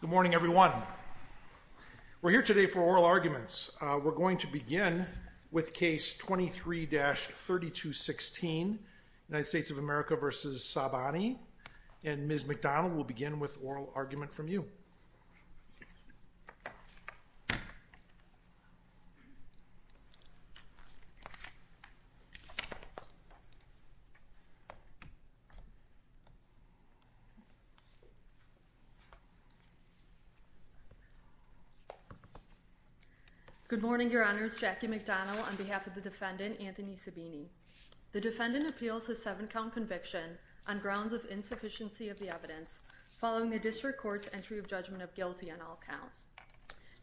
Good morning everyone. We're here today for oral arguments. We're going to begin with case 23-3216 United States of America v. Sabaini and Ms. McDonald will begin with oral argument from you. Good morning, your honors. Jackie McDonald on behalf of the defendant Anthony Sabaini. The defendant appeals a seven count conviction on grounds of insufficiency of the evidence following the district court's entry of judgment of guilty on all counts.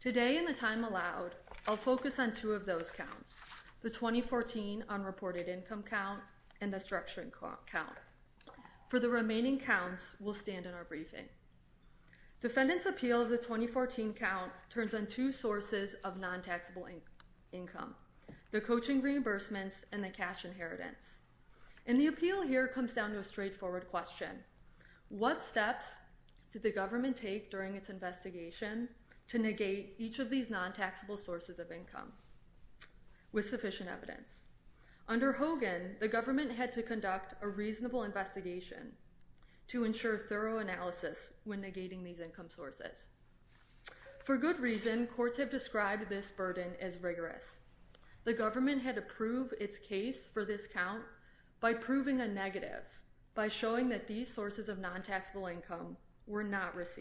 Today in the time allowed I'll focus on two of those counts, the 2014 unreported income count and the structuring count. For the remaining counts we'll stand in our briefing. Defendant's appeal of the 2014 count turns on two sources of non-taxable income, the coaching reimbursements and the cash inheritance. And the appeal here comes down to a straightforward question. What steps did the government take during its investigation to negate each of these non-taxable sources of income with sufficient evidence? Under Hogan, the government had to conduct a reasonable investigation to ensure thorough analysis when negating these income sources. For good reason, courts have described this burden as rigorous. The government had to prove its case for this count by proving a negative, by showing that these sources of non-taxable income. First,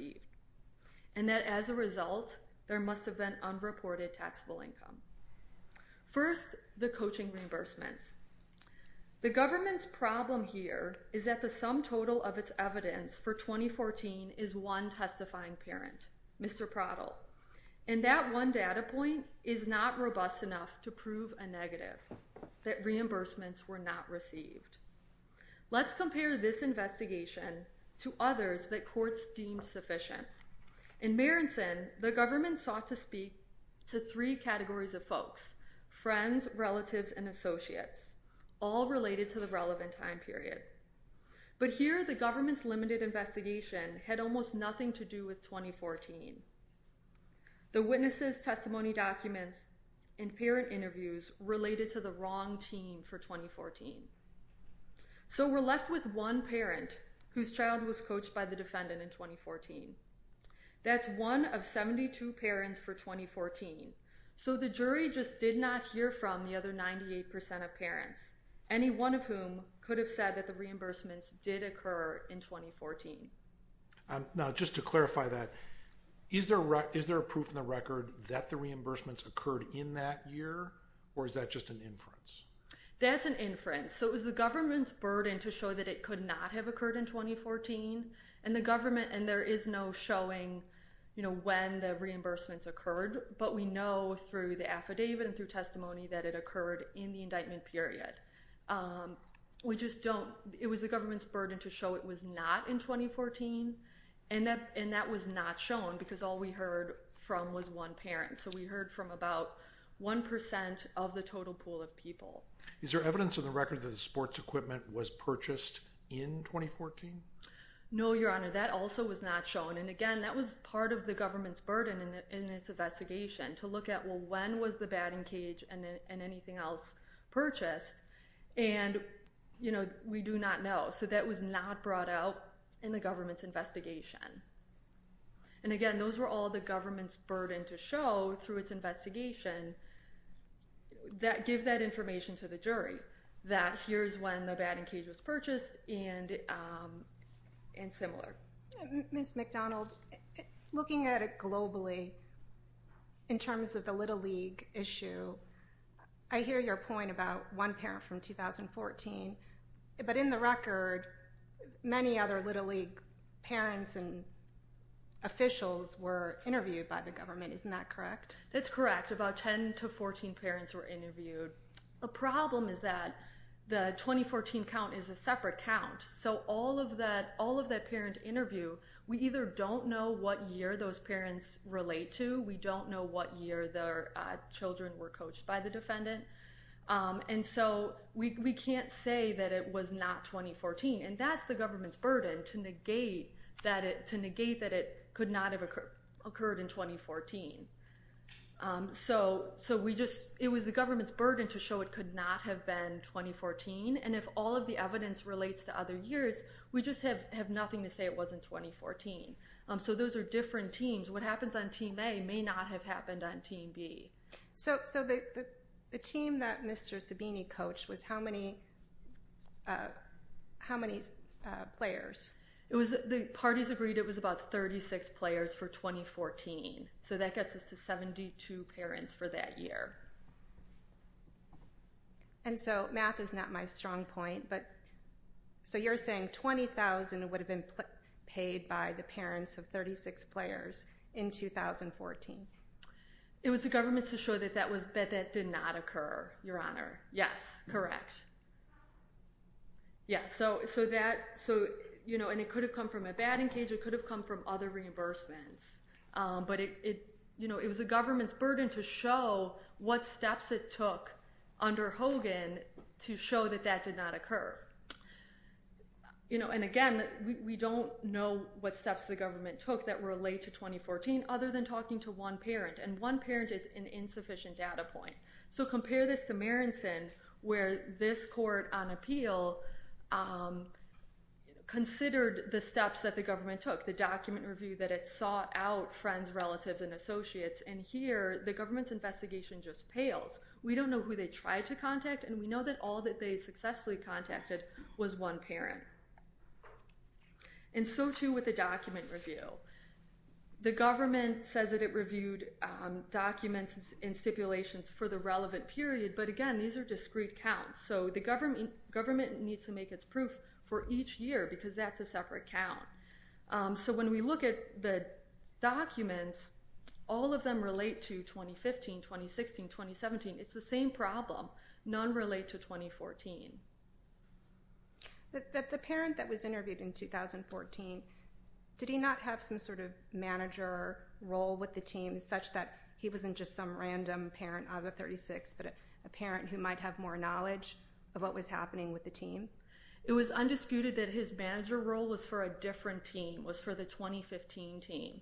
the coaching reimbursements. The government's problem here is that the sum total of its evidence for 2014 is one testifying parent, Mr. Prottle. And that one data point is not robust enough to prove a negative, that reimbursements were not received. Let's compare this investigation to others that courts deem sufficient. In Marenson, the government sought to speak to three categories of folks, friends, relatives, and associates, all related to the relevant time period. But here, the government's limited investigation had almost nothing to do with 2014. The witnesses' testimony documents and parent interviews related to the wrong team for 2014. So we're left with one parent whose child was coached by the defendant in 2014. That's one of 72 parents for 2014. So the jury just did not hear from the other 98% of parents, any one of whom could have said that the reimbursements did occur in 2014. Now, just to clarify that, is there a proof in the record that the reimbursements occurred in that year, or is that just an inference? That's an inference. So it was the government's burden to show that it could not have occurred in 2014, and there is no showing when the reimbursements occurred, but we know through the affidavit and through testimony that it occurred in the indictment period. It was the government's burden to show it was not in 2014, and that was not shown because all we heard from was one parent. So we heard from about 1% of the total pool of people. Is there evidence in the record that sports equipment was purchased in 2014? No, Your Honor. That also was not shown, and again, that was part of the government's burden in its investigation to look at, well, when was the batting cage and anything else purchased, and we do not know. So that was not brought out in the government's investigation. And again, those were all the government's burden to show through its investigation that give that information to the jury, that here's when the batting cage was purchased and similar. Ms. McDonald, looking at it globally in terms of the Little League issue, I hear your point about one parent from 2014, but in the record, many other Little League parents and officials were interviewed by the government. Isn't that correct? That's correct. About 10 to 14 parents were interviewed. The problem is that the 2014 count is a separate count, so all of that parent interview, we either don't know what year those parents relate to, we don't know what year their children were coached by the defendant, and so we can't say that it was not 2014. And that's the government's burden to negate that it could not have occurred in 2014. So it was the government's burden to show it could not have been 2014, and if all of the evidence relates to other years, we just have nothing to say it wasn't 2014. So those are different teams. What happens on Team A may not have happened on Team B. So the team that Mr. Sabini coached, how many players? The parties agreed it was about 36 players for 2014, so that gets us to 72 parents for that year. And so math is not my strong point, but so you're saying 20,000 would have been paid by the parents of 36 players in 2014. It was the government's to show that that did not occur, Your Honor. Yes, correct. And it could have come from a batting cage, it could have come from other reimbursements, but it was the government's burden to show what steps it took under Hogan to show that that did not occur. And again, we don't know what steps the government took that relate to 2014 other than talking to one parent, and one parent is an insufficient data point. So compare this to Marenson, where this court on appeal considered the steps that the government took, the document review that it sought out friends, relatives, and associates, and here the government's investigation just pales. We don't know who they tried to contact, and we know that all that they successfully contacted was one parent. And so too with the document review. The government says that it reviewed documents and stipulations for the relevant period, but again, these are discrete counts, so the government needs to make its proof for each year because that's a separate count. So when we look at the documents, all of them relate to 2015, 2016, 2017. It's the same problem. None relate to 2014. The parent that was interviewed in 2014, did he not have some sort of manager role with the team such that he wasn't just some random parent out of the 36, but a parent who might have more knowledge of what was happening with the team? It was undisputed that his forefront team was for the 2015 team.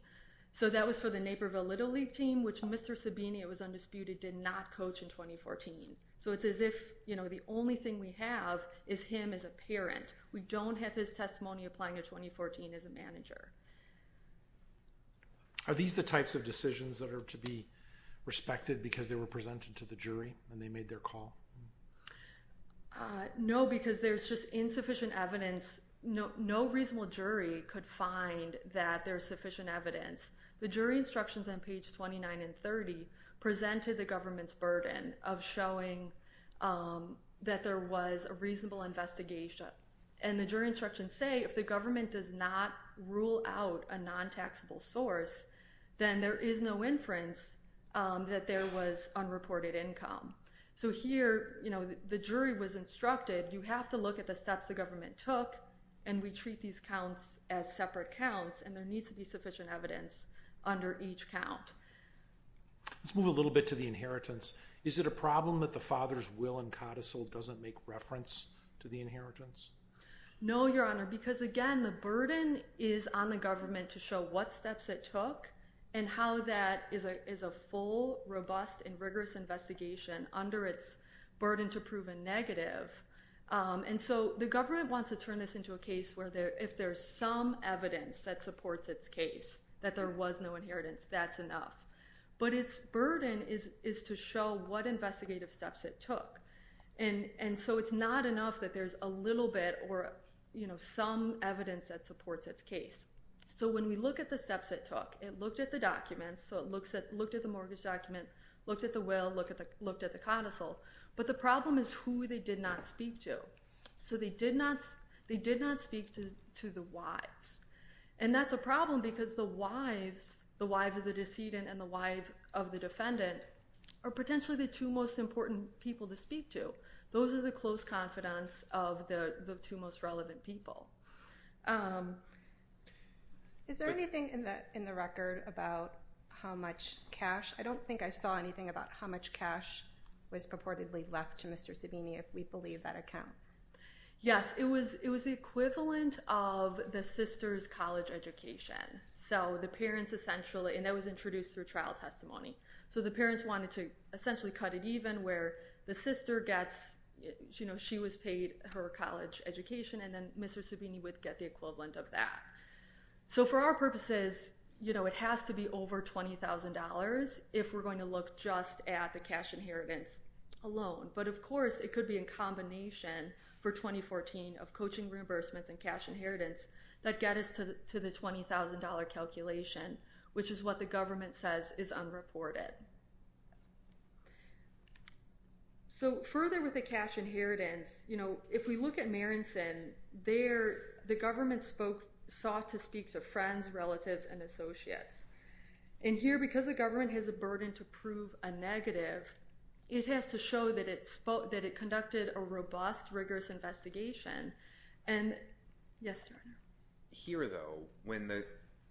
So that was for the Naperville Little League team, which Mr. Sabini, it was undisputed, did not coach in 2014. So it's as if the only thing we have is him as a parent. We don't have his testimony applying in 2014 as a manager. Are these the types of decisions that are to be respected because they were presented to the jury and they made their call? No, because there's just insufficient evidence. No reasonable jury could find that there's sufficient evidence. The jury instructions on page 29 and 30 presented the government's burden of showing that there was a reasonable investigation. And the jury instructions say if the government does not rule out a non-taxable source, then there is no inference that there was unreported income. So here, the jury was instructed, you have to look at the steps the government took, and we treat these counts as separate counts, and there needs to be sufficient evidence under each count. Let's move a little bit to the inheritance. Is it a problem that the father's will and codicil doesn't make reference to the inheritance? No, Your Honor, because again, the burden is on the government to show what steps it took and how that is a full, robust, and rigorous investigation under its burden to prove a negative. And so the government wants to turn this into a case where if there's some evidence that supports its case, that there was no inheritance, that's enough. But its burden is to show what investigative steps it took. And so it's not enough that there's a little bit or some evidence that supports its case. So when we look at the steps it took, it looked at the documents, so it looked at the mortgage document, looked at the will, looked at the codicil, but the problem is who they did not speak to. So they did not speak to the wives. And that's a problem because the wives of the decedent and the wives of the defendant are potentially the two most important people to speak to. So those are the close confidants of the two most relevant people. Is there anything in the record about how much cash? I don't think I saw anything about how much cash was purportedly left to Mr. Sabini if we believe that account. Yes, it was the equivalent of the sister's college education. And that was introduced through trial testimony. So the parents wanted to essentially cut it even where the sister gets, you know, she was paid her college education and then Mr. Sabini would get the equivalent of that. So for our purposes, you know, it has to be over $20,000 if we're going to look just at the cash inheritance alone. But of course it could be in combination for 2014 of coaching reimbursements and cash inheritance that get us to the $20,000 calculation, which is what the government says is unreported. So further with the cash inheritance, you know, if we look at Marenson, the government sought to speak to friends, relatives, and associates. And here because the government has a burden to prove a negative, it has to show that it conducted a robust, rigorous investigation. Yes, Your Honor. Here, though, when the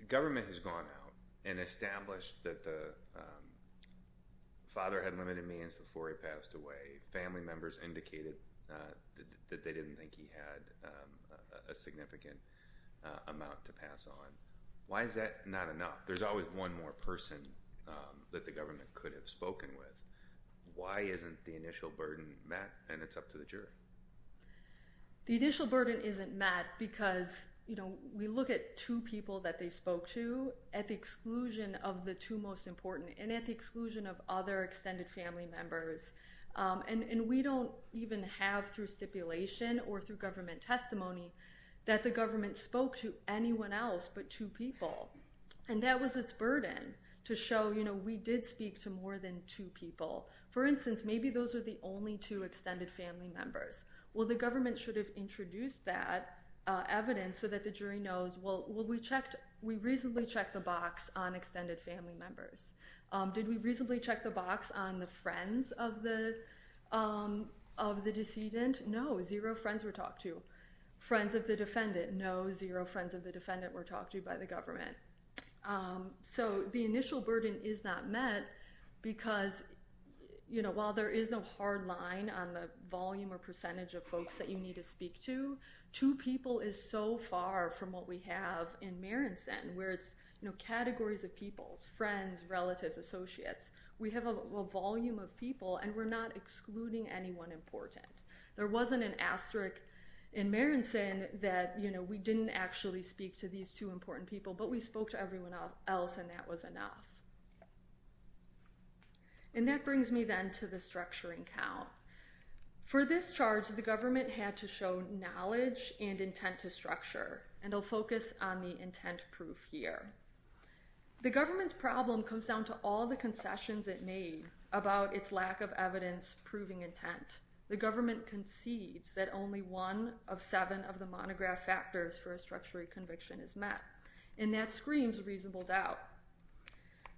government has gone out and established that the father had limited means before he passed away, family members indicated that they didn't think he had a significant amount to pass on, why is that not enough? There's always one more person that the government could have spoken with. Why isn't the initial burden met? And it's up to the jury. The initial burden isn't met because, you know, we look at two people that they spoke to at the exclusion of the two most important and at the exclusion of other extended family members. And we don't even have through stipulation or through government testimony that the government spoke to anyone else but two people. And that was its burden to show, you know, we did speak to more than two people. For instance, maybe those are the only two extended family members. Well, the government should have introduced that evidence so that the jury knows, well, we checked, we reasonably checked the box on extended family members. Did we reasonably check the box on the friends of the decedent? No, zero friends were talked to. Friends of the defendant? No, zero friends of the defendant were talked to by the government. So the initial burden is not met because, you know, while there is no hard line on the volume or percentage of folks that you need to speak to, two people is so far from what we have in Marenson where it's, you know, categories of peoples, friends, relatives, associates. We have a volume of people and we're not excluding anyone important. There wasn't an asterisk in Marenson that, you know, we didn't actually speak to these two important people, but we spoke to everyone else and that was enough. And that brings me then to the structuring count. For this charge, the government had to show knowledge and intent to structure, and I'll focus on the intent proof here. The government's problem comes down to all the concessions it made about its lack of evidence proving intent. The government concedes that only one of seven of the monograph factors for a structuring conviction is met, and that screams reasonable doubt.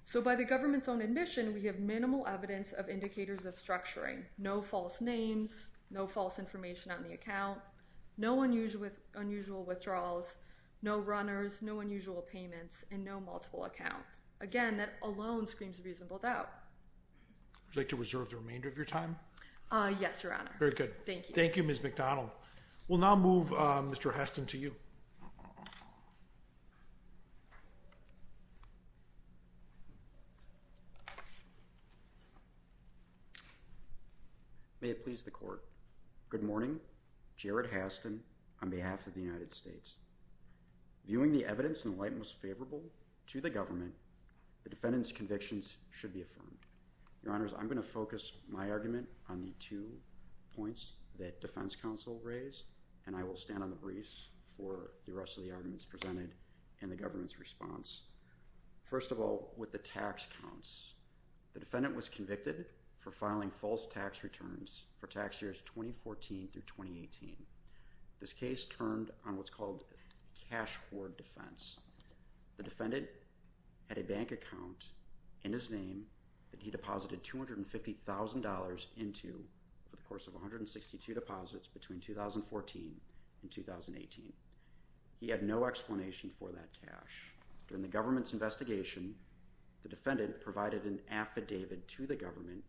So by the government's own admission, we have minimal evidence of indicators of structuring. No false names, no false information on the account, no unusual withdrawals, no runners, no unusual payments, and no multiple accounts. Again, that alone screams reasonable doubt. Would you like to reserve the remainder of your time? Yes, Your Honor. Very good. Thank you. Thank you, Ms. McDonald. We'll now move Mr. Haston to you. May it please the Court. Good morning. Jared Haston on behalf of the United States. Viewing the evidence in the light most favorable to the government, the defendant's convictions should be affirmed. Your Honors, I'm going to focus my argument on the two points that defense counsel raised, and I will stand on the briefs for the rest of the arguments presented in the government's response. First of all, with the tax counts, the defendant was convicted for filing false tax returns for tax years 2014 through 2018. This case turned on what's called cash hoard defense. The defendant had a bank account in his name that he deposited $250,000 into for the course of 162 deposits between 2014 and 2018. He had no explanation for that cash. During the government's investigation, the defendant provided an affidavit to the government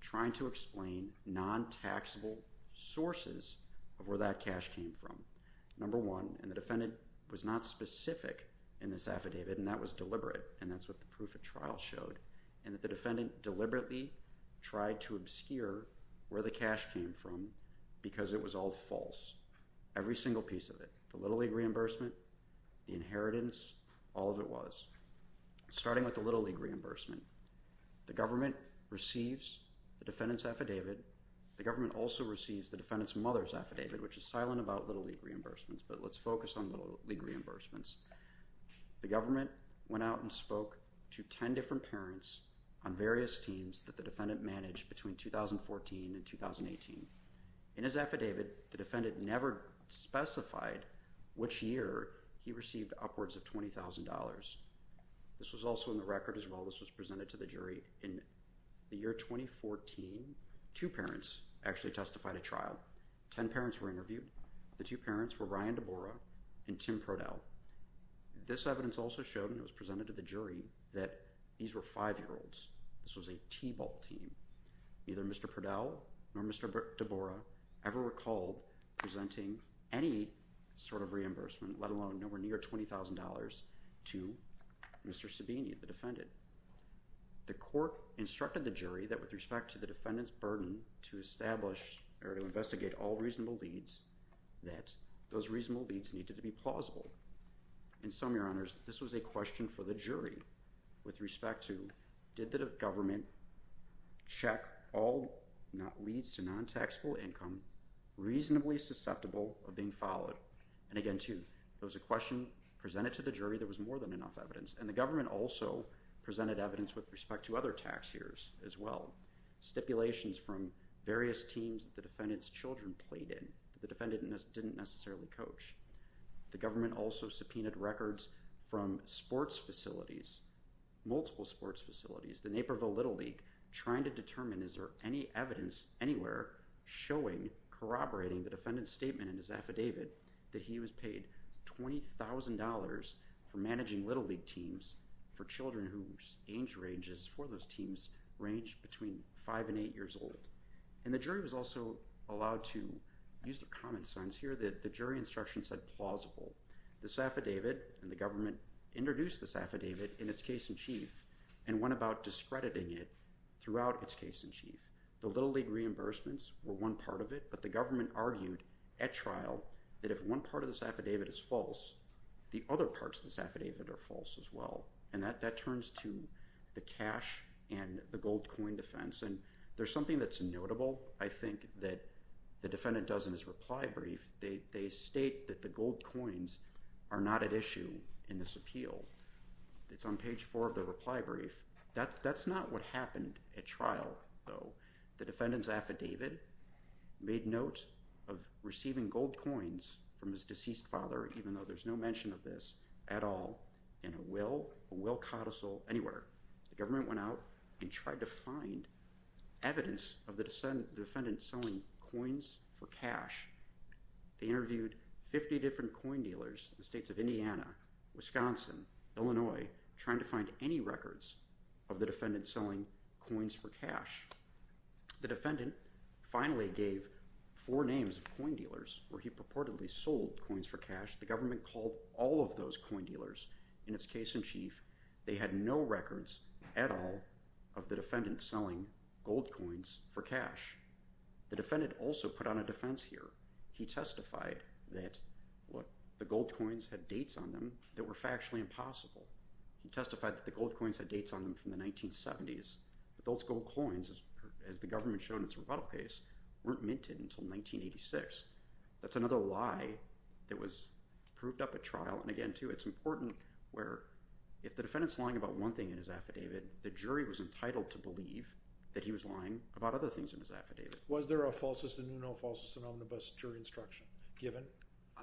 trying to explain non-taxable sources of where that cash came from. Number one, and the defendant was not specific in this affidavit, and that was deliberate, and that's what the proof of trial showed, and that the defendant deliberately tried to obscure where the cash came from because it was all false. Every single piece of it, the Little League reimbursement, the inheritance, all of it was. Starting with the Little League reimbursement, the government receives the defendant's affidavit. The government also receives the defendant's mother's affidavit, which is silent about Little League reimbursements, but let's focus on Little League reimbursements. The government went out and spoke to 10 different parents on various teams that the defendant managed between 2014 and 2018. In his affidavit, the defendant never specified which year he received upwards of $20,000. This was also in the record as well. This was presented to the jury in the year 2014. Two parents actually testified at trial. Ten parents were interviewed. The two parents were Ryan DeBorah and Tim Prodell. This evidence also showed, and it was presented to the jury, that these were five-year-olds. This was a T-ball team. Neither Mr. Prodell nor Mr. DeBorah ever recalled presenting any sort of reimbursement, let alone nowhere near $20,000, to Mr. Sabini, the defendant. The court instructed the jury that with respect to the defendant's burden to establish or to investigate all reasonable leads, that those reasonable leads needed to be plausible. In sum, Your Honors, this was a question for the jury with respect to did the government check all leads to non-taxable income reasonably susceptible of being followed? And again, too, it was a question presented to the jury. There was more than enough evidence. And the government also presented evidence with respect to other tax years as well. Stipulations from various teams that the defendant's children played in that the defendant didn't necessarily coach. The government also subpoenaed records from sports facilities, multiple sports facilities, the Naperville Little League, trying to determine is there any evidence anywhere showing, corroborating the defendant's statement in his affidavit, that he was paid $20,000 for managing Little League teams for children whose age ranges for those teams ranged between 5 and 8 years old. And the jury was also allowed to use the common sense here that the jury instruction said plausible. This affidavit and the government introduced this affidavit in its case in chief and went about discrediting it throughout its case in chief. The Little League reimbursements were one part of it, but the government argued at trial that if one part of this affidavit is false, the other parts of this affidavit are false as well. And that turns to the cash and the gold coin defense. And there's something that's notable, I think, that the defendant does in his reply brief. They state that the gold coins are not at issue in this appeal. It's on page 4 of the reply brief. That's not what happened at trial, though. The defendant's affidavit made note of receiving gold coins from his deceased father, even though there's no mention of this at all, in a will, a will codicil, anywhere. The government went out and tried to find evidence of the defendant selling coins for cash. They interviewed 50 different coin dealers in the states of Indiana, Wisconsin, Illinois, Illinois, trying to find any records of the defendant selling coins for cash. The defendant finally gave four names of coin dealers where he purportedly sold coins for The government called all of those coin dealers. In its case in chief, they had no records at all of the defendant selling gold coins for cash. The defendant also put on a defense here. He testified that the gold coins had dates on them that were factually impossible. He testified that the gold coins had dates on them from the 1970s. But those gold coins, as the government showed in its rebuttal case, weren't minted until 1986. That's another lie that was proved up at trial. And again, too, it's important where if the defendant's lying about one thing in his affidavit, the jury was entitled to believe that he was lying about other things in his affidavit. Was there a falsis ad nuno, falsis ad omnibus jury instruction given?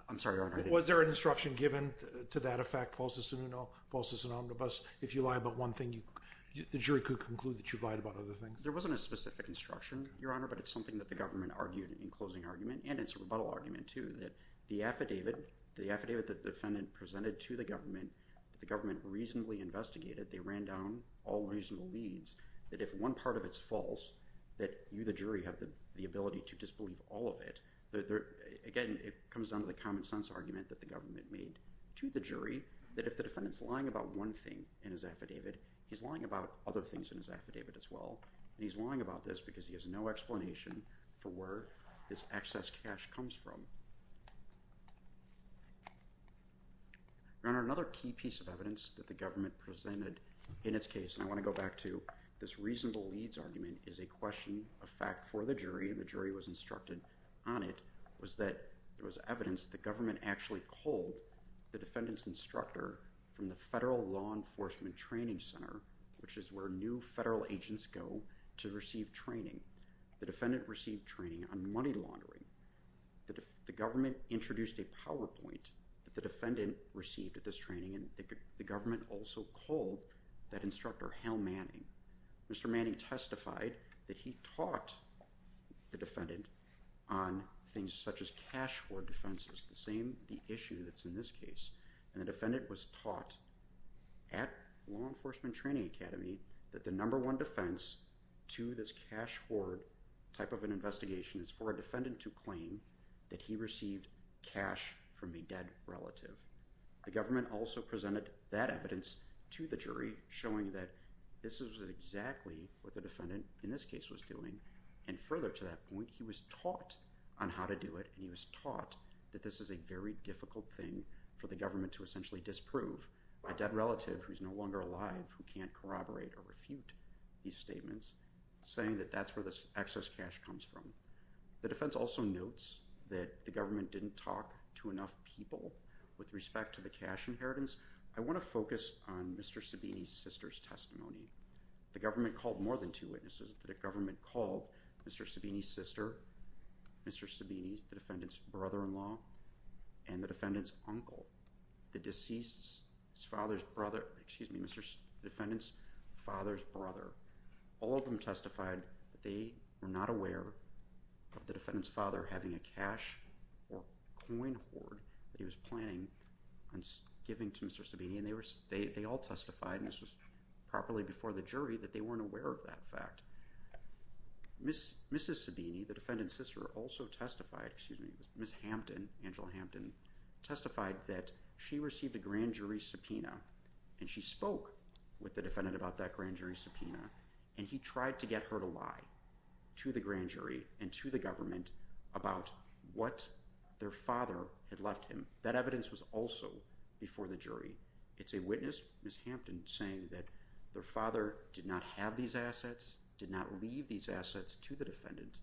I'm sorry, Your Honor. Was there an instruction given to that effect, falsis ad nuno, falsis ad omnibus, if you lie about one thing, the jury could conclude that you lied about other things? There wasn't a specific instruction, Your Honor, but it's something that the government argued in closing argument, and it's a rebuttal argument, too, that the affidavit, the affidavit that the defendant presented to the government, that the government reasonably investigated, they ran down all reasonable leads, that if one part of it's false, that you, the jury, have the ability to disbelieve all of it. Again, it comes down to the common sense argument that the government made to the jury that if the defendant's lying about one thing in his affidavit, he's lying about other things in his affidavit as well, and he's lying about this because he has no explanation for where this excess cash comes from. Your Honor, another key piece of evidence that the government presented in its case, and I want to go back to this reasonable leads argument, is a question, a fact for the jury, and the jury was instructed on it, was that there was evidence that the government actually culled the defendant's instructor from the Federal Law Enforcement Training Center, which is where new federal agents go to receive training. The defendant received training on money laundering. The government introduced a PowerPoint that the defendant received at this training, and the government also culled that instructor, Hal Manning. Mr. Manning testified that he taught the defendant on things such as cash hoard defenses, the same, the issue that's in this case, and the defendant was taught at Law Enforcement Training Academy that the number one defense to this cash hoard type of an investigation is for a defendant to claim that he received cash from a dead relative. The government also presented that evidence to the jury, showing that this is exactly what the defendant in this case was doing, and further to that point, he was taught on how to do it, and he was taught that this is a very difficult thing for the government to essentially disprove, a dead relative who's no longer alive, who can't corroborate or refute these statements, saying that that's where this excess cash comes from. The defense also notes that the government didn't talk to enough people with respect to the cash inheritance. I want to focus on Mr. Sabini's sister's testimony. The government called more than two witnesses. The government called Mr. Sabini's sister, Mr. Sabini, the defendant's brother-in-law, and the defendant's uncle, the defendant's father's brother. All of them testified that they were not aware of the defendant's father having a cash or coin hoard that he was planning on giving to Mr. Sabini, and they all testified, and this was properly before the jury, that they weren't aware of that fact. Mrs. Sabini, the defendant's sister, also testified, excuse me, Ms. Hampton, Angela Hampton, testified that she received a grand jury subpoena, and she spoke with the defendant about that grand jury subpoena, and he tried to get her to lie to the grand jury and to the government about what their father had left him. That evidence was also before the jury. It's a witness, Ms. Hampton, saying that their father did not have these assets, did not leave these assets to the defendant,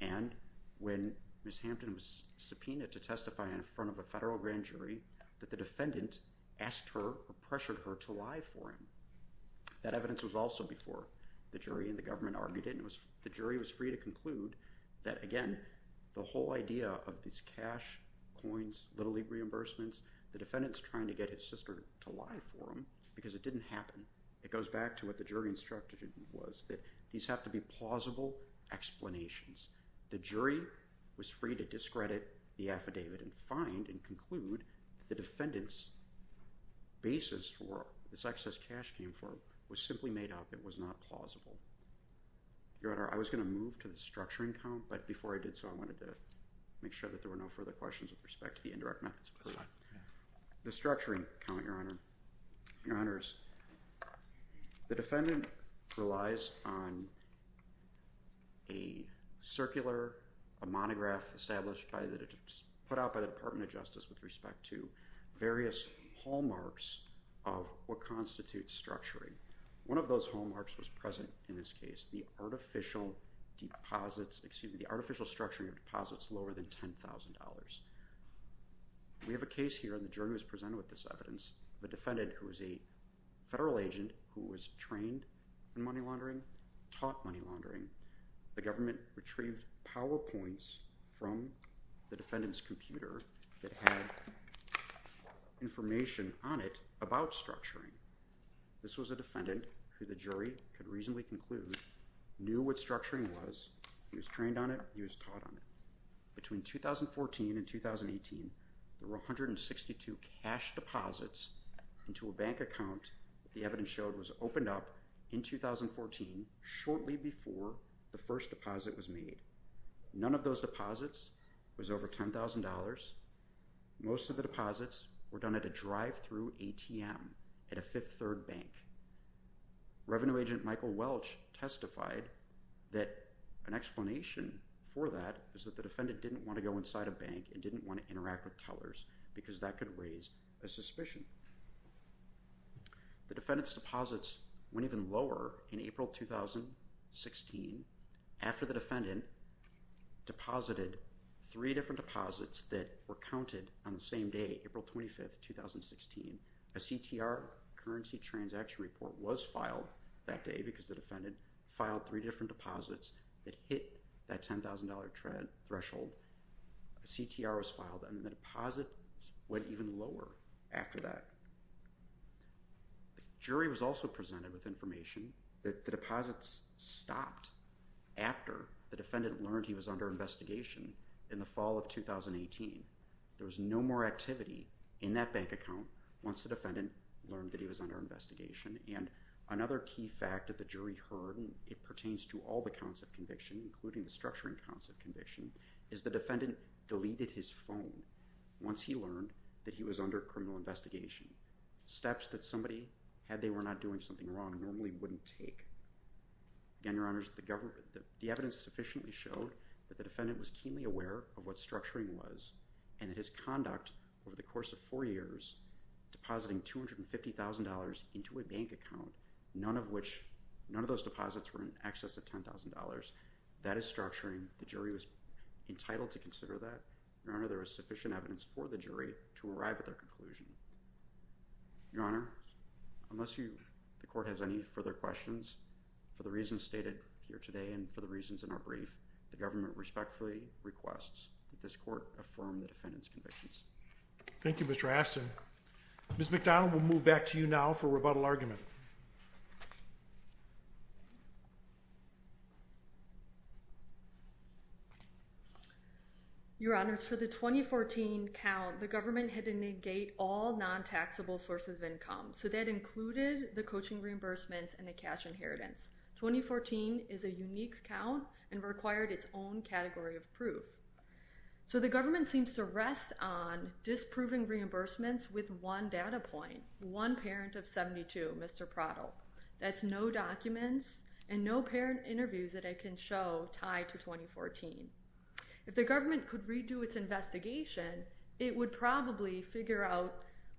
and when Ms. Hampton was subpoenaed to testify in front of a federal grand jury, that the defendant asked her or pressured her to lie for him. That evidence was also before the jury, and the government argued it, and the jury was free to conclude that, again, the whole idea of these cash, coins, Little League reimbursements, the defendant's trying to get his sister to lie for him because it didn't happen. It goes back to what the jury instructed him was, that these have to be plausible explanations. The jury was free to discredit the affidavit and find and conclude that the defendant's basis for this excess cash came from was simply made up. It was not plausible. Your Honor, I was going to move to the structuring count, but before I did so, I wanted to make sure that there were no further questions with respect to the indirect methods. The structuring count, Your Honor, Your Honors, the defendant relies on a circular, a monograph established by the, put out by the Department of Justice with respect to various hallmarks of what constitutes structuring. One of those hallmarks was present in this case, the artificial deposits, excuse me, the artificial structuring of deposits lower than $10,000. We have a case here and the jury was presented with this evidence of a defendant who was a federal agent who was trained in money laundering, taught money laundering. The government retrieved PowerPoints from the defendant's computer that had information on it about structuring. This was a defendant who the jury could reasonably conclude knew what structuring was. He was trained on it. He was taught on it. Between 2014 and 2018, there were 162 cash deposits into a bank account. The evidence showed it was opened up in 2014, shortly before the first deposit was made. None of those deposits was over $10,000. Most of the deposits were done at a drive-through ATM at a Fifth Third Bank. Revenue agent Michael Welch testified that an explanation for that is that the defendant didn't want to go inside a bank and didn't want to interact with tellers because that could raise a suspicion. The defendant's deposits went even lower in April 2016 after the defendant deposited three different deposits that were counted on the same day, April 25th, 2016, a CTR, a Currency Transaction Report, was filed that day because the defendant filed three different deposits that hit that $10,000 threshold. A CTR was filed and the deposits went even lower after that. The jury was also presented with information that the deposits stopped after the defendant learned he was under investigation in the fall of 2018. There was no more activity in that bank account once the defendant learned that he was under investigation. And another key fact that the jury heard, and it pertains to all the counts of conviction, including the structuring counts of conviction, is the defendant deleted his phone once he learned that he was under criminal investigation. Steps that somebody, had they not been doing something wrong, normally wouldn't take. Again, Your Honors, the evidence sufficiently showed that the defendant was keenly aware of what structuring was and that his conduct over the course of four years, depositing $250,000 into a bank account, none of which, none of those deposits were in excess of $10,000. That is structuring. The jury was entitled to consider that. Your Honor, there was sufficient evidence for the jury to arrive at their conclusion. Your Honor, unless the court has any further questions, for the reasons stated here today and for the reasons in our brief, the government respectfully requests that this court affirm the defendant's convictions. Thank you, Mr. Aston. Ms. McDonald, we'll move back to you now for rebuttal argument. Your Honors, for the 2014 count, the government had to negate all non-taxable sources of income. So that included the coaching reimbursements and the cash inheritance. 2014 is a unique count and required its own category of proof. So the government seems to rest on disproving reimbursements with one data point, one parent of 72, Mr. Prottle. That's no documents and no parent interviews that I can show tied to 2014. If the government could redo its investigation, it would probably figure out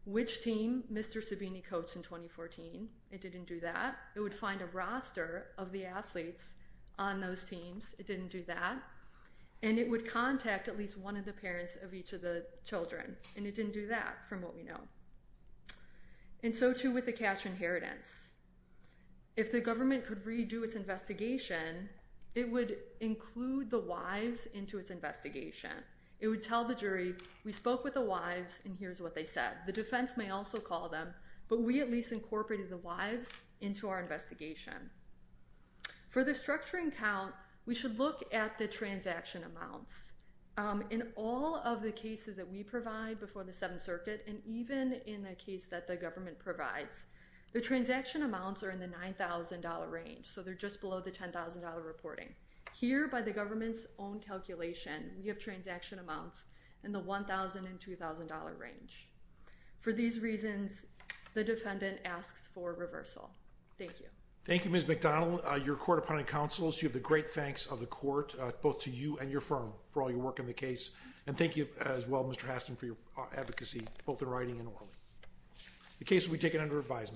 which team Mr. Sabini coached in 2014. It didn't do that. It would find a roster of the athletes on those teams. It didn't do that. And it would contact at least one of the parents of each of the children. And it didn't do that, from what we know. And so, too, with the cash inheritance. If the government could redo its investigation, it would include the wives into its investigation. It would tell the jury, we spoke with the wives and here's what they said. The defense may also call them, but we at least incorporated the wives into our investigation. For the structuring count, we should look at the transaction amounts. In all of the cases that we provide before the Seventh Circuit, and even in the case that the government provides, the transaction amounts are in the $9,000 range. So they're just below the $10,000 reporting. Here, by the government's own calculation, we have transaction amounts in the $1,000 and $2,000 range. For these reasons, the defendant asks for reversal. Thank you. Thank you, Ms. McDonald. Your court appointed counsels. You have the great thanks of the court, both to you and your firm, for all your work on the case. And thank you, as well, Mr. Haston, for your advocacy, both in writing and orally. The case will be taken under advisement.